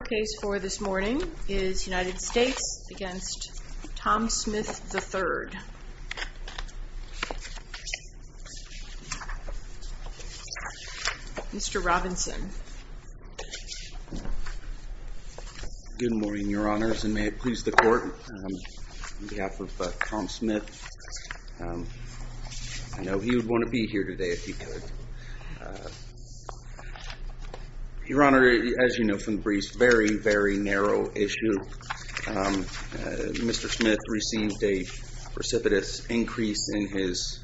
Your case for this morning is United States v. Tom Smith, III. Mr. Robinson. Good morning, Your Honors, and may it please the Court, on behalf of Tom Smith, I know he would want to be here today if he could. Your Honor, as you know from the brief, it's a very, very narrow issue. Mr. Smith received a precipitous increase in his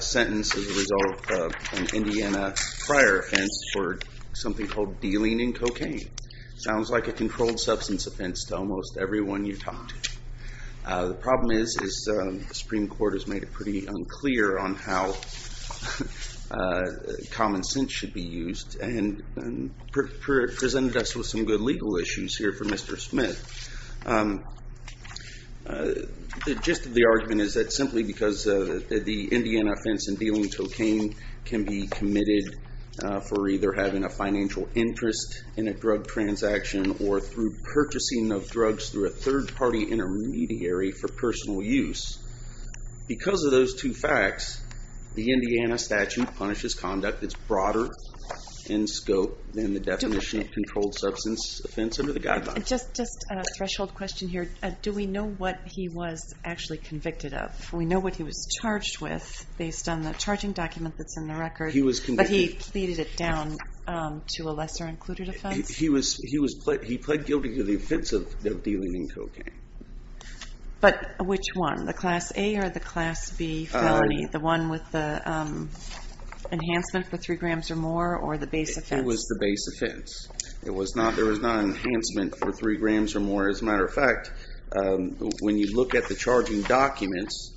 sentence as a result of an Indiana prior offense for something called dealing in cocaine. Sounds like a controlled substance offense to almost everyone you talk to. The problem is the Supreme Court has made it pretty unclear on how common sense should be used and presented us with some good legal issues here for Mr. Smith. Just the argument is that simply because the Indiana offense in dealing in cocaine can be committed for either having a financial interest in a drug transaction or through intermediary for personal use. Because of those two facts, the Indiana statute punishes conduct that's broader in scope than the definition of controlled substance offense under the guidelines. Just a threshold question here. Do we know what he was actually convicted of? We know what he was charged with based on the charging document that's in the record, but he pleaded it down to a lesser included offense? He pled guilty to the offense of dealing in cocaine. But which one? The class A or the class B felony, the one with the enhancement for three grams or more or the base offense? It was the base offense. It was not, there was not an enhancement for three grams or more. As a matter of fact, when you look at the charging documents,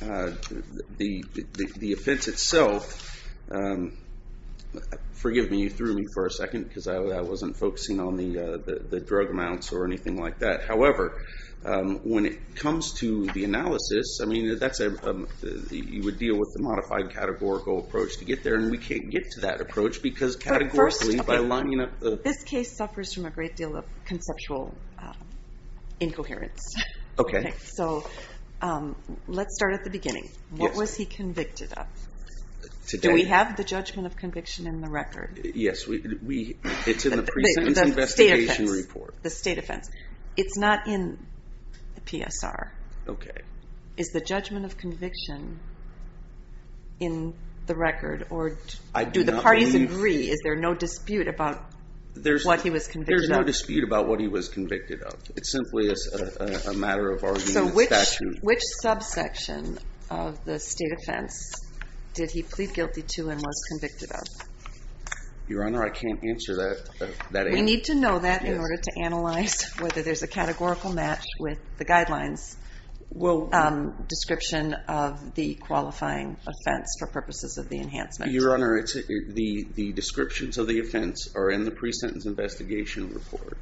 the offense itself, forgive me, you threw me for a second because I wasn't focusing on the drug amounts or anything like that. However, when it comes to the analysis, you would deal with the modified categorical approach to get there and we can't get to that approach because categorically by lining up the... This case suffers from a great deal of conceptual incoherence. Let's start at the beginning. What was he convicted of? Do we have the judgment of conviction in the record? Yes, it's in the precedent investigation report. The state offense. It's not in the PSR. Is the judgment of conviction in the record or do the parties agree, is there no dispute about what he was convicted of? There's no dispute about what he was convicted of. It's simply a matter of arguing the statute. Which subsection of the state offense did he plead guilty to and was convicted of? Your Honor, I can't answer that. We need to know that in order to analyze whether there's a categorical match with the guidelines description of the qualifying offense for purposes of the enhancement. Your Honor, the descriptions of the offense are in the pre-sentence investigation report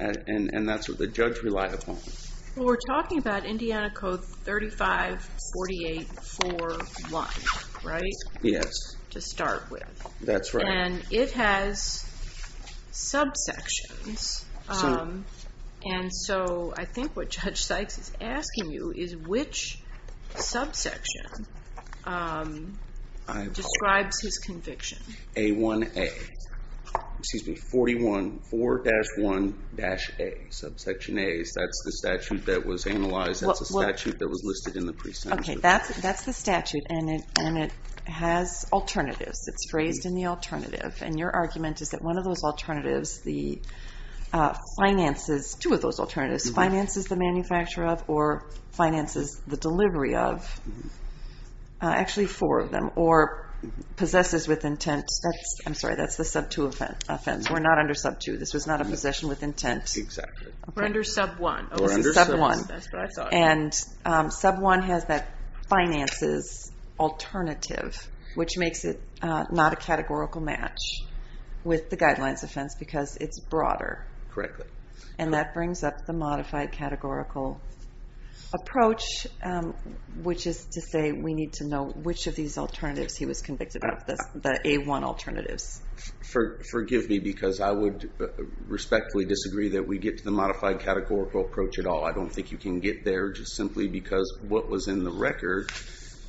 and that's what the judge relied upon. We're talking about Indiana Code 3548-4-1, right? Yes. To start with. That's right. It has subsections and so I think what Judge Sykes is asking you is which subsection describes his conviction. A-1-A. Excuse me, 41-4-1-A, subsection A. That's the statute that was analyzed. That's the statute that was listed in the pre-sentence report. That's the statute and it has alternatives. It's phrased in the alternative and your argument is that one of those alternatives, the finances, two of those alternatives, finances the manufacturer of or finances the delivery of, actually four of them, or possesses with intent, I'm sorry, that's the sub-two offense. We're not under sub-two. This was not a possession with intent. Exactly. We're under sub-one. This is sub-one. That's what I thought. And sub-one has that finances alternative, which makes it not a categorical match with the guidelines offense because it's broader. Correctly. And that brings up the modified categorical approach, which is to say we need to know which of these alternatives he was convicted of, the A-1 alternatives. Forgive me because I would respectfully disagree that we get to the modified categorical approach at all. I don't think you can get there just simply because what was in the record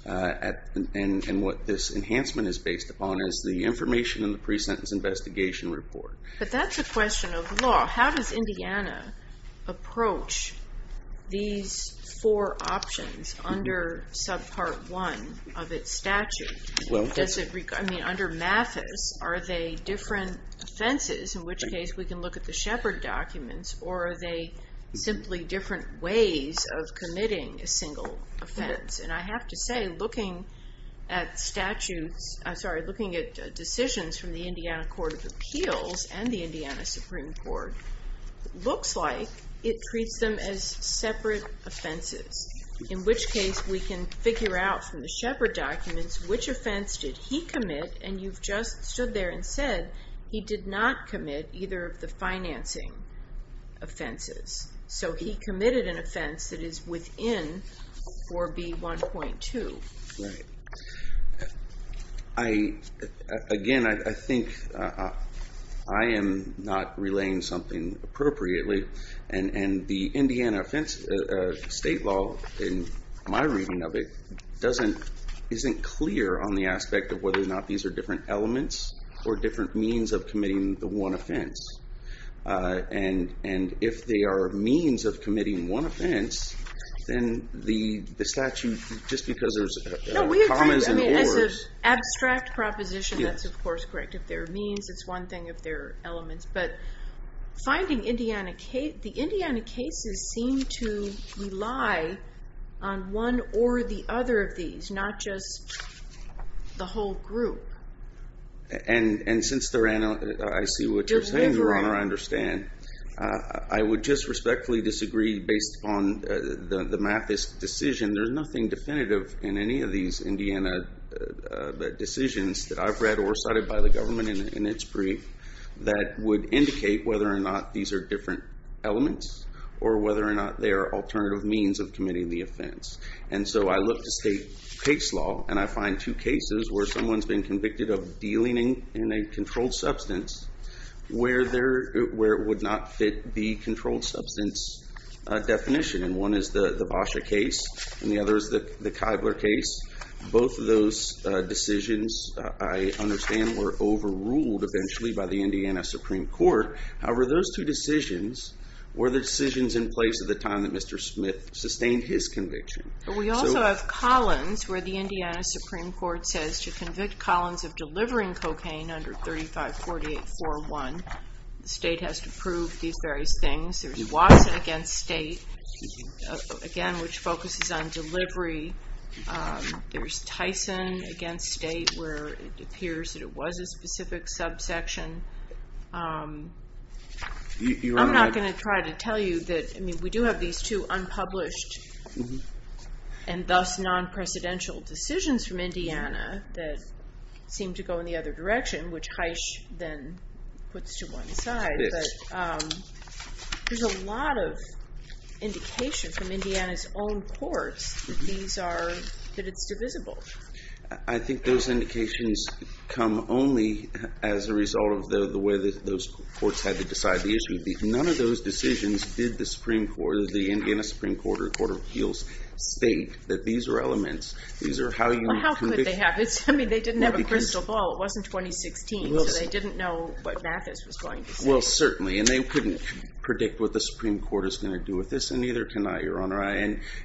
and what this enhancement is based upon is the information in the pre-sentence investigation report. But that's a question of law. How does Indiana approach these four options under sub-part one of its statute? Under Mathis, are they different offenses, in which case we can look at the Shepard documents, or are they simply different ways of committing a single offense? I have to say, looking at decisions from the Indiana Court of Appeals and the Indiana Supreme Court, it looks like it treats them as separate offenses, in which case we can figure out from the Shepard documents which offense did he commit, and you've just stood there and said he did not commit either of the financing offenses. So he committed an offense that is within 4B1.2. Right. Again, I think I am not relaying something appropriately, and the Indiana state law, in my reading of it, isn't clear on the aspect of whether or not these are different elements or different means of committing the one offense. And if they are means of committing one offense, then the statute, just because there's commas and ors... As an abstract proposition, that's, of course, correct. If they're means, it's one thing if they're elements, but the Indiana cases seem to rely on one or the other of these, not just the whole group. And since I see what you're saying, Your Honor, I understand. I would just respectfully disagree based on the Mathis decision. There's nothing definitive in any of these Indiana decisions that I've read or cited by the government in its brief that would indicate whether or not these are different elements or whether or not they are alternative means of committing the offense. And so I look to state case law, and I find two cases where someone's been convicted of dealing in a controlled substance where it would not fit the controlled substance definition. One is the Basha case, and the other is the Keibler case. Both of those decisions, I understand, were overruled eventually by the Indiana Supreme Court. However, those two decisions were the decisions in place at the time that Mr. Smith sustained his conviction. But we also have Collins, where the Indiana Supreme Court says to convict Collins of delivering cocaine under 3548.4.1, the state has to prove these various things. There's Watson against state, again, which focuses on delivery. There's Tyson against state, where it appears that it was a specific subsection. I'm not going to try to tell you that we do have these two unpublished and thus non-precedential decisions from Indiana that seem to go in the other direction, which Heisch then puts to one side. But there's a lot of indication from Indiana's own courts that it's divisible. I think those indications come only as a result of the way that those courts had to decide the issue. None of those decisions did the Indiana Supreme Court or the Court of Appeals state that these are elements. Well, how could they have? I mean, they didn't have a crystal ball. It wasn't 2016, so they didn't know what Mathis was going to say. Well, certainly. And they couldn't predict what the Supreme Court is going to do with this, and neither can I, Your Honor.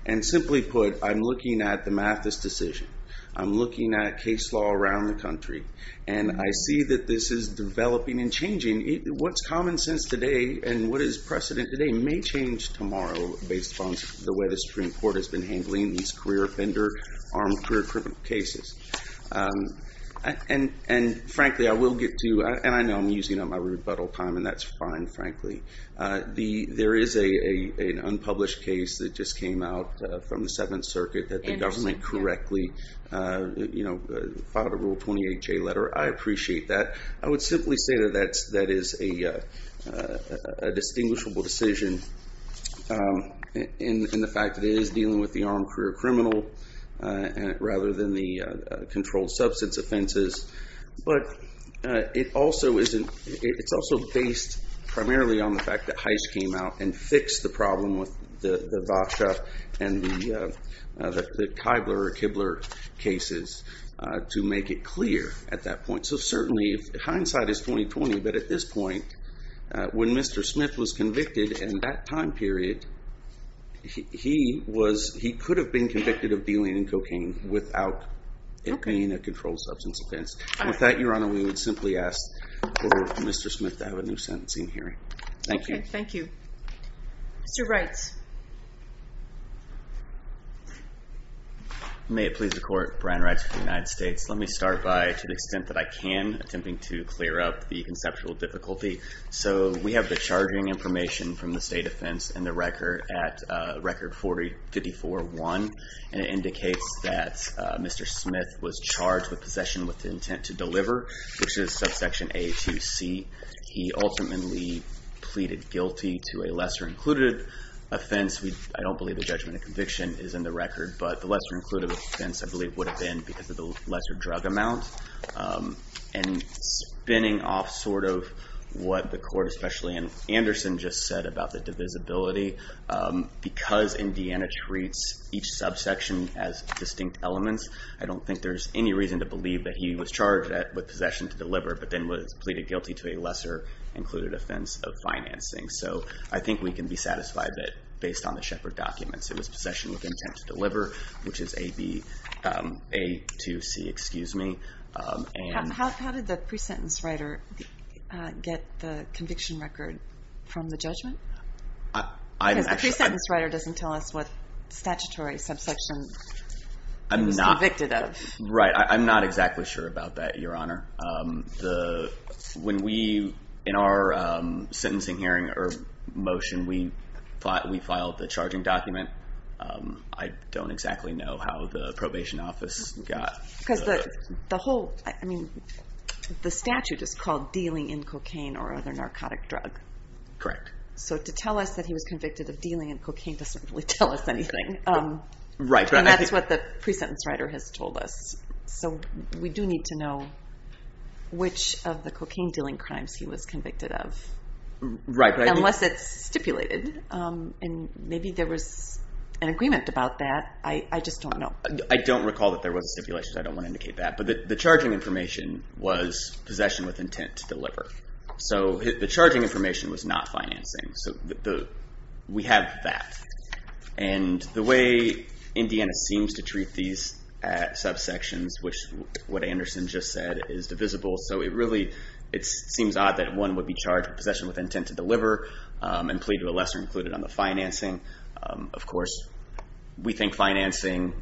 And simply put, I'm looking at the Mathis decision. I'm looking at case law around the country, and I see that this is developing and changing. What's common sense today and what is precedent today may change tomorrow based upon the way the Supreme Court has been handling these career offender, armed career criminal cases. And frankly, I will get to, and I know I'm using up my rebuttal time, and that's fine, frankly. There is an unpublished case that just came out from the Seventh Circuit that the government correctly filed a Rule 28J letter. I appreciate that. I would simply say that that is a distinguishable decision in the fact that it is dealing with the armed career criminal rather than the controlled substance offenses. But it's also based primarily on the fact that Heiss came out and fixed the problem with the Vacha and the Kibler cases to make it clear at that point. So certainly, hindsight is 20-20, but at this point, when Mr. Smith was convicted in that time period, he could have been convicted of dealing in cocaine without it being a controlled substance offense. With that, Your Honor, we would simply ask for Mr. Smith to have a new sentencing hearing. Thank you. Thank you. Mr. Wrights. May it please the Court, Brian Wrights of the United States. Let me start by, to the extent that I can, attempting to clear up the conceptual difficulty. So we have the charging information from the state offense and the record at Record 40-54-1, and it indicates that Mr. Smith was charged with possession with intent to deliver, which is subsection A to C. He ultimately pleaded guilty to a lesser-included offense. I don't believe the judgment of conviction is in the record, but the lesser-included offense, I believe, would have been because of the lesser drug amount. And spinning off sort of what the Court, especially in Anderson, just said about the divisibility, because Indiana treats each subsection as distinct elements, I don't think there's any reason to believe that he was charged with possession to deliver, but then was pleaded guilty to a lesser-included offense of financing. So I think we can be satisfied that, based on the Shepherd documents, it was possession with intent to deliver, which is A to C. How did the pre-sentence writer get the conviction record from the judgment? Because the pre-sentence writer doesn't tell us what statutory subsection he was convicted of. Right. I'm not exactly sure about that, Your Honor. When we, in our sentencing hearing or motion, we filed the charging document, I don't exactly know how the probation office got the... Because the whole, I mean, the statute is called Dealing in Cocaine or Other Narcotic Drug. Correct. So to tell us that he was convicted of Dealing in Cocaine doesn't really tell us anything. Right. And that's what the pre-sentence writer has told us. So we do need to know which of the cocaine-dealing crimes he was convicted of. Right. Unless it's stipulated, and maybe there was an agreement about that. I just don't know. I don't recall that there was a stipulation, so I don't want to indicate that. But the charging information was possession with intent to deliver. So the charging information was not financing. So we have that. And the way Indiana seems to treat these subsections, which what Anderson just said is divisible, so it really, it seems odd that one would be charged with possession with intent to deliver and plead to a lesser included on the financing. Of course, we think financing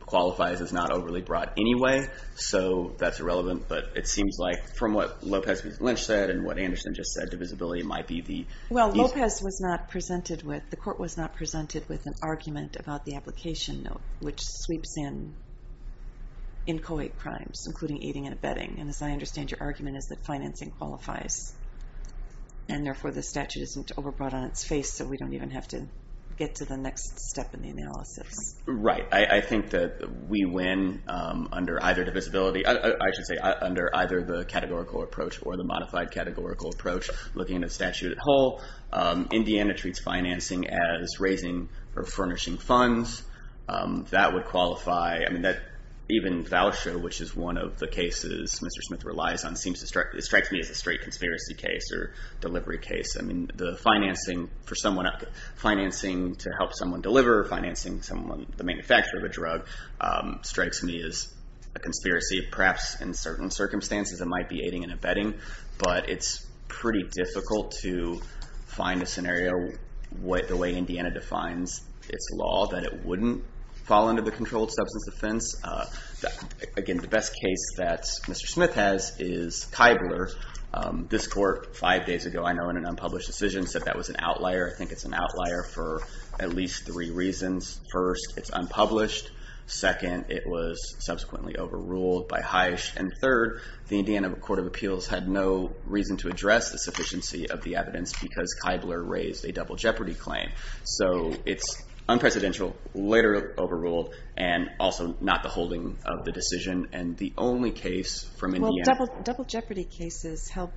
qualifies as not overly broad anyway, so that's irrelevant. But it seems like from what Lopez Lynch said and what Anderson just said, divisibility might be the... Well, Lopez was not presented with, the court was not presented with an argument about the application note, which sweeps in inchoate crimes, including aiding and abetting. And as I understand, your argument is that financing qualifies. And therefore, the statute isn't overbroad on its face, so we don't even have to get to the next step in the analysis. Right. I think that we win under either divisibility. I should say under either the categorical approach or the modified categorical approach looking at statute at whole. Indiana treats financing as raising or furnishing funds. That would qualify. I mean, that even Voucher, which is one of the cases Mr. Smith relies on, it strikes me as a straight conspiracy case or delivery case. I mean, the financing for someone, financing to help someone deliver, financing someone, the manufacturer of a drug, strikes me as a conspiracy, perhaps in certain circumstances it might be aiding and abetting. But it's pretty difficult to find a scenario the way Indiana defines its law that it wouldn't fall under the controlled substance offense. Again, the best case that Mr. Smith has is Kybler. This court five days ago, I know in an unpublished decision, said that was an outlier. I think it's an outlier for at least three reasons. First, it's unpublished. Second, it was subsequently overruled by Heisch. And third, the Indiana Court of Appeals had no reason to address the sufficiency of the evidence because Kybler raised a double jeopardy claim. So it's unprecedential, later overruled, and also not the holding of the decision. And the only case from Indiana- Well, double jeopardy cases help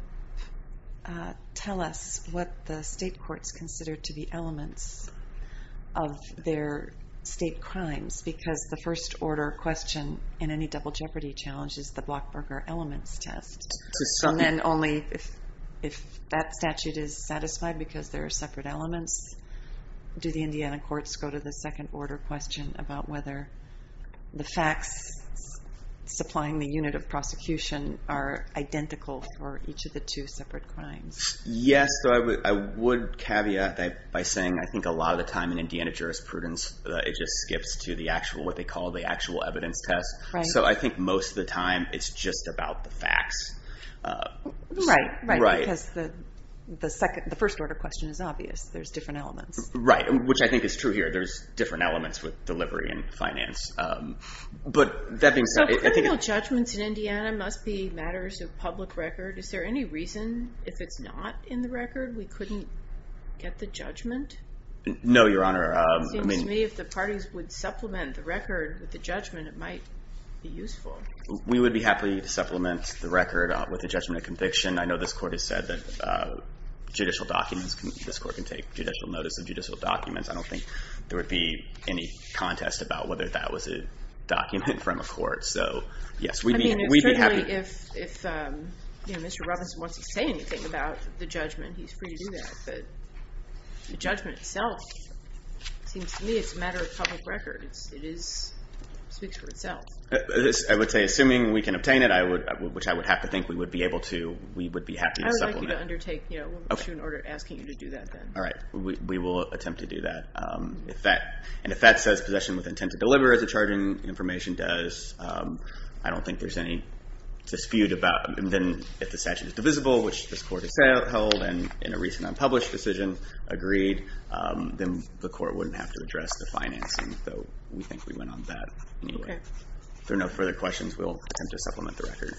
tell us what the state courts consider to be elements of their state crimes, because the first order question in any double jeopardy challenge is the Blockberger elements test. So then only if that statute is satisfied because there are separate elements, do the Indiana courts go to the second order question about whether the facts supplying the unit of prosecution are identical for each of the two separate crimes? Yes, I would caveat that by saying I think a lot of the time in Indiana jurisprudence, it just skips to what they call the actual evidence test. So I think most of the time, it's just about the facts. Right, right. Because the first order question is obvious. There's different elements. Right, which I think is true here. There's different elements with delivery and finance. But that being said- So criminal judgments in Indiana must be matters of public record. Is there any reason if it's not in the record, we couldn't get the judgment? No, Your Honor. It seems to me if the parties would supplement the record with the judgment, it might be useful. We would be happy to supplement the record with a judgment of conviction. I know this court has said that judicial documents, this court can take judicial notice of judicial documents. I don't think there would be any contest about whether that was a document from a court. So yes, we'd be happy- If Mr. Robinson wants to say anything about the judgment, he's free to do that. But the judgment itself, it seems to me it's a matter of public record. It speaks for itself. I would say, assuming we can obtain it, which I would have to think we would be able to, we would be happy to supplement- I would like you to undertake an issue in order, asking you to do that then. All right. We will attempt to do that. And if that says possession with intent to deliver as the charging information does, I don't think there's any dispute about- And then if the statute is divisible, which this court has held in a recent unpublished decision, agreed, then the court wouldn't have to address the financing. So we think we went on that. Okay. If there are no further questions, we'll attempt to supplement the record.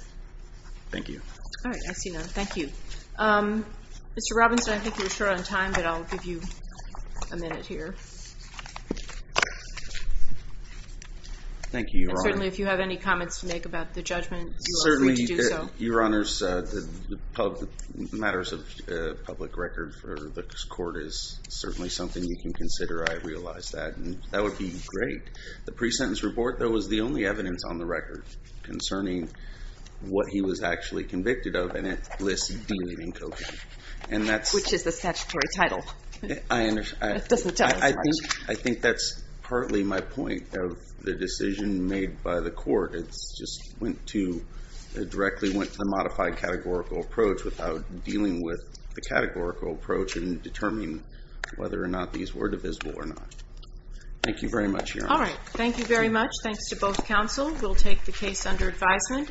Thank you. All right. I see none. Thank you. Mr. Robinson, I think you were short on time, but I'll give you a minute here. Thank you, Your Honor. And certainly, if you have any comments to make about the judgment, you are free to do so. Certainly, Your Honors, the matters of public record for this court is certainly something you can consider. I realize that. And that would be great. The pre-sentence report, though, was the only evidence on the record concerning what he was actually convicted of, and it lists dealing in cocaine. Which is the statutory title. I understand. It doesn't tell us much. I think that's partly my point of the decision made by the court. It just went to the modified categorical approach without dealing with the categorical approach in determining whether or not these were divisible or not. Thank you very much, Your Honor. All right. Thank you very much. Thanks to both counsel. We'll take the case under advisement.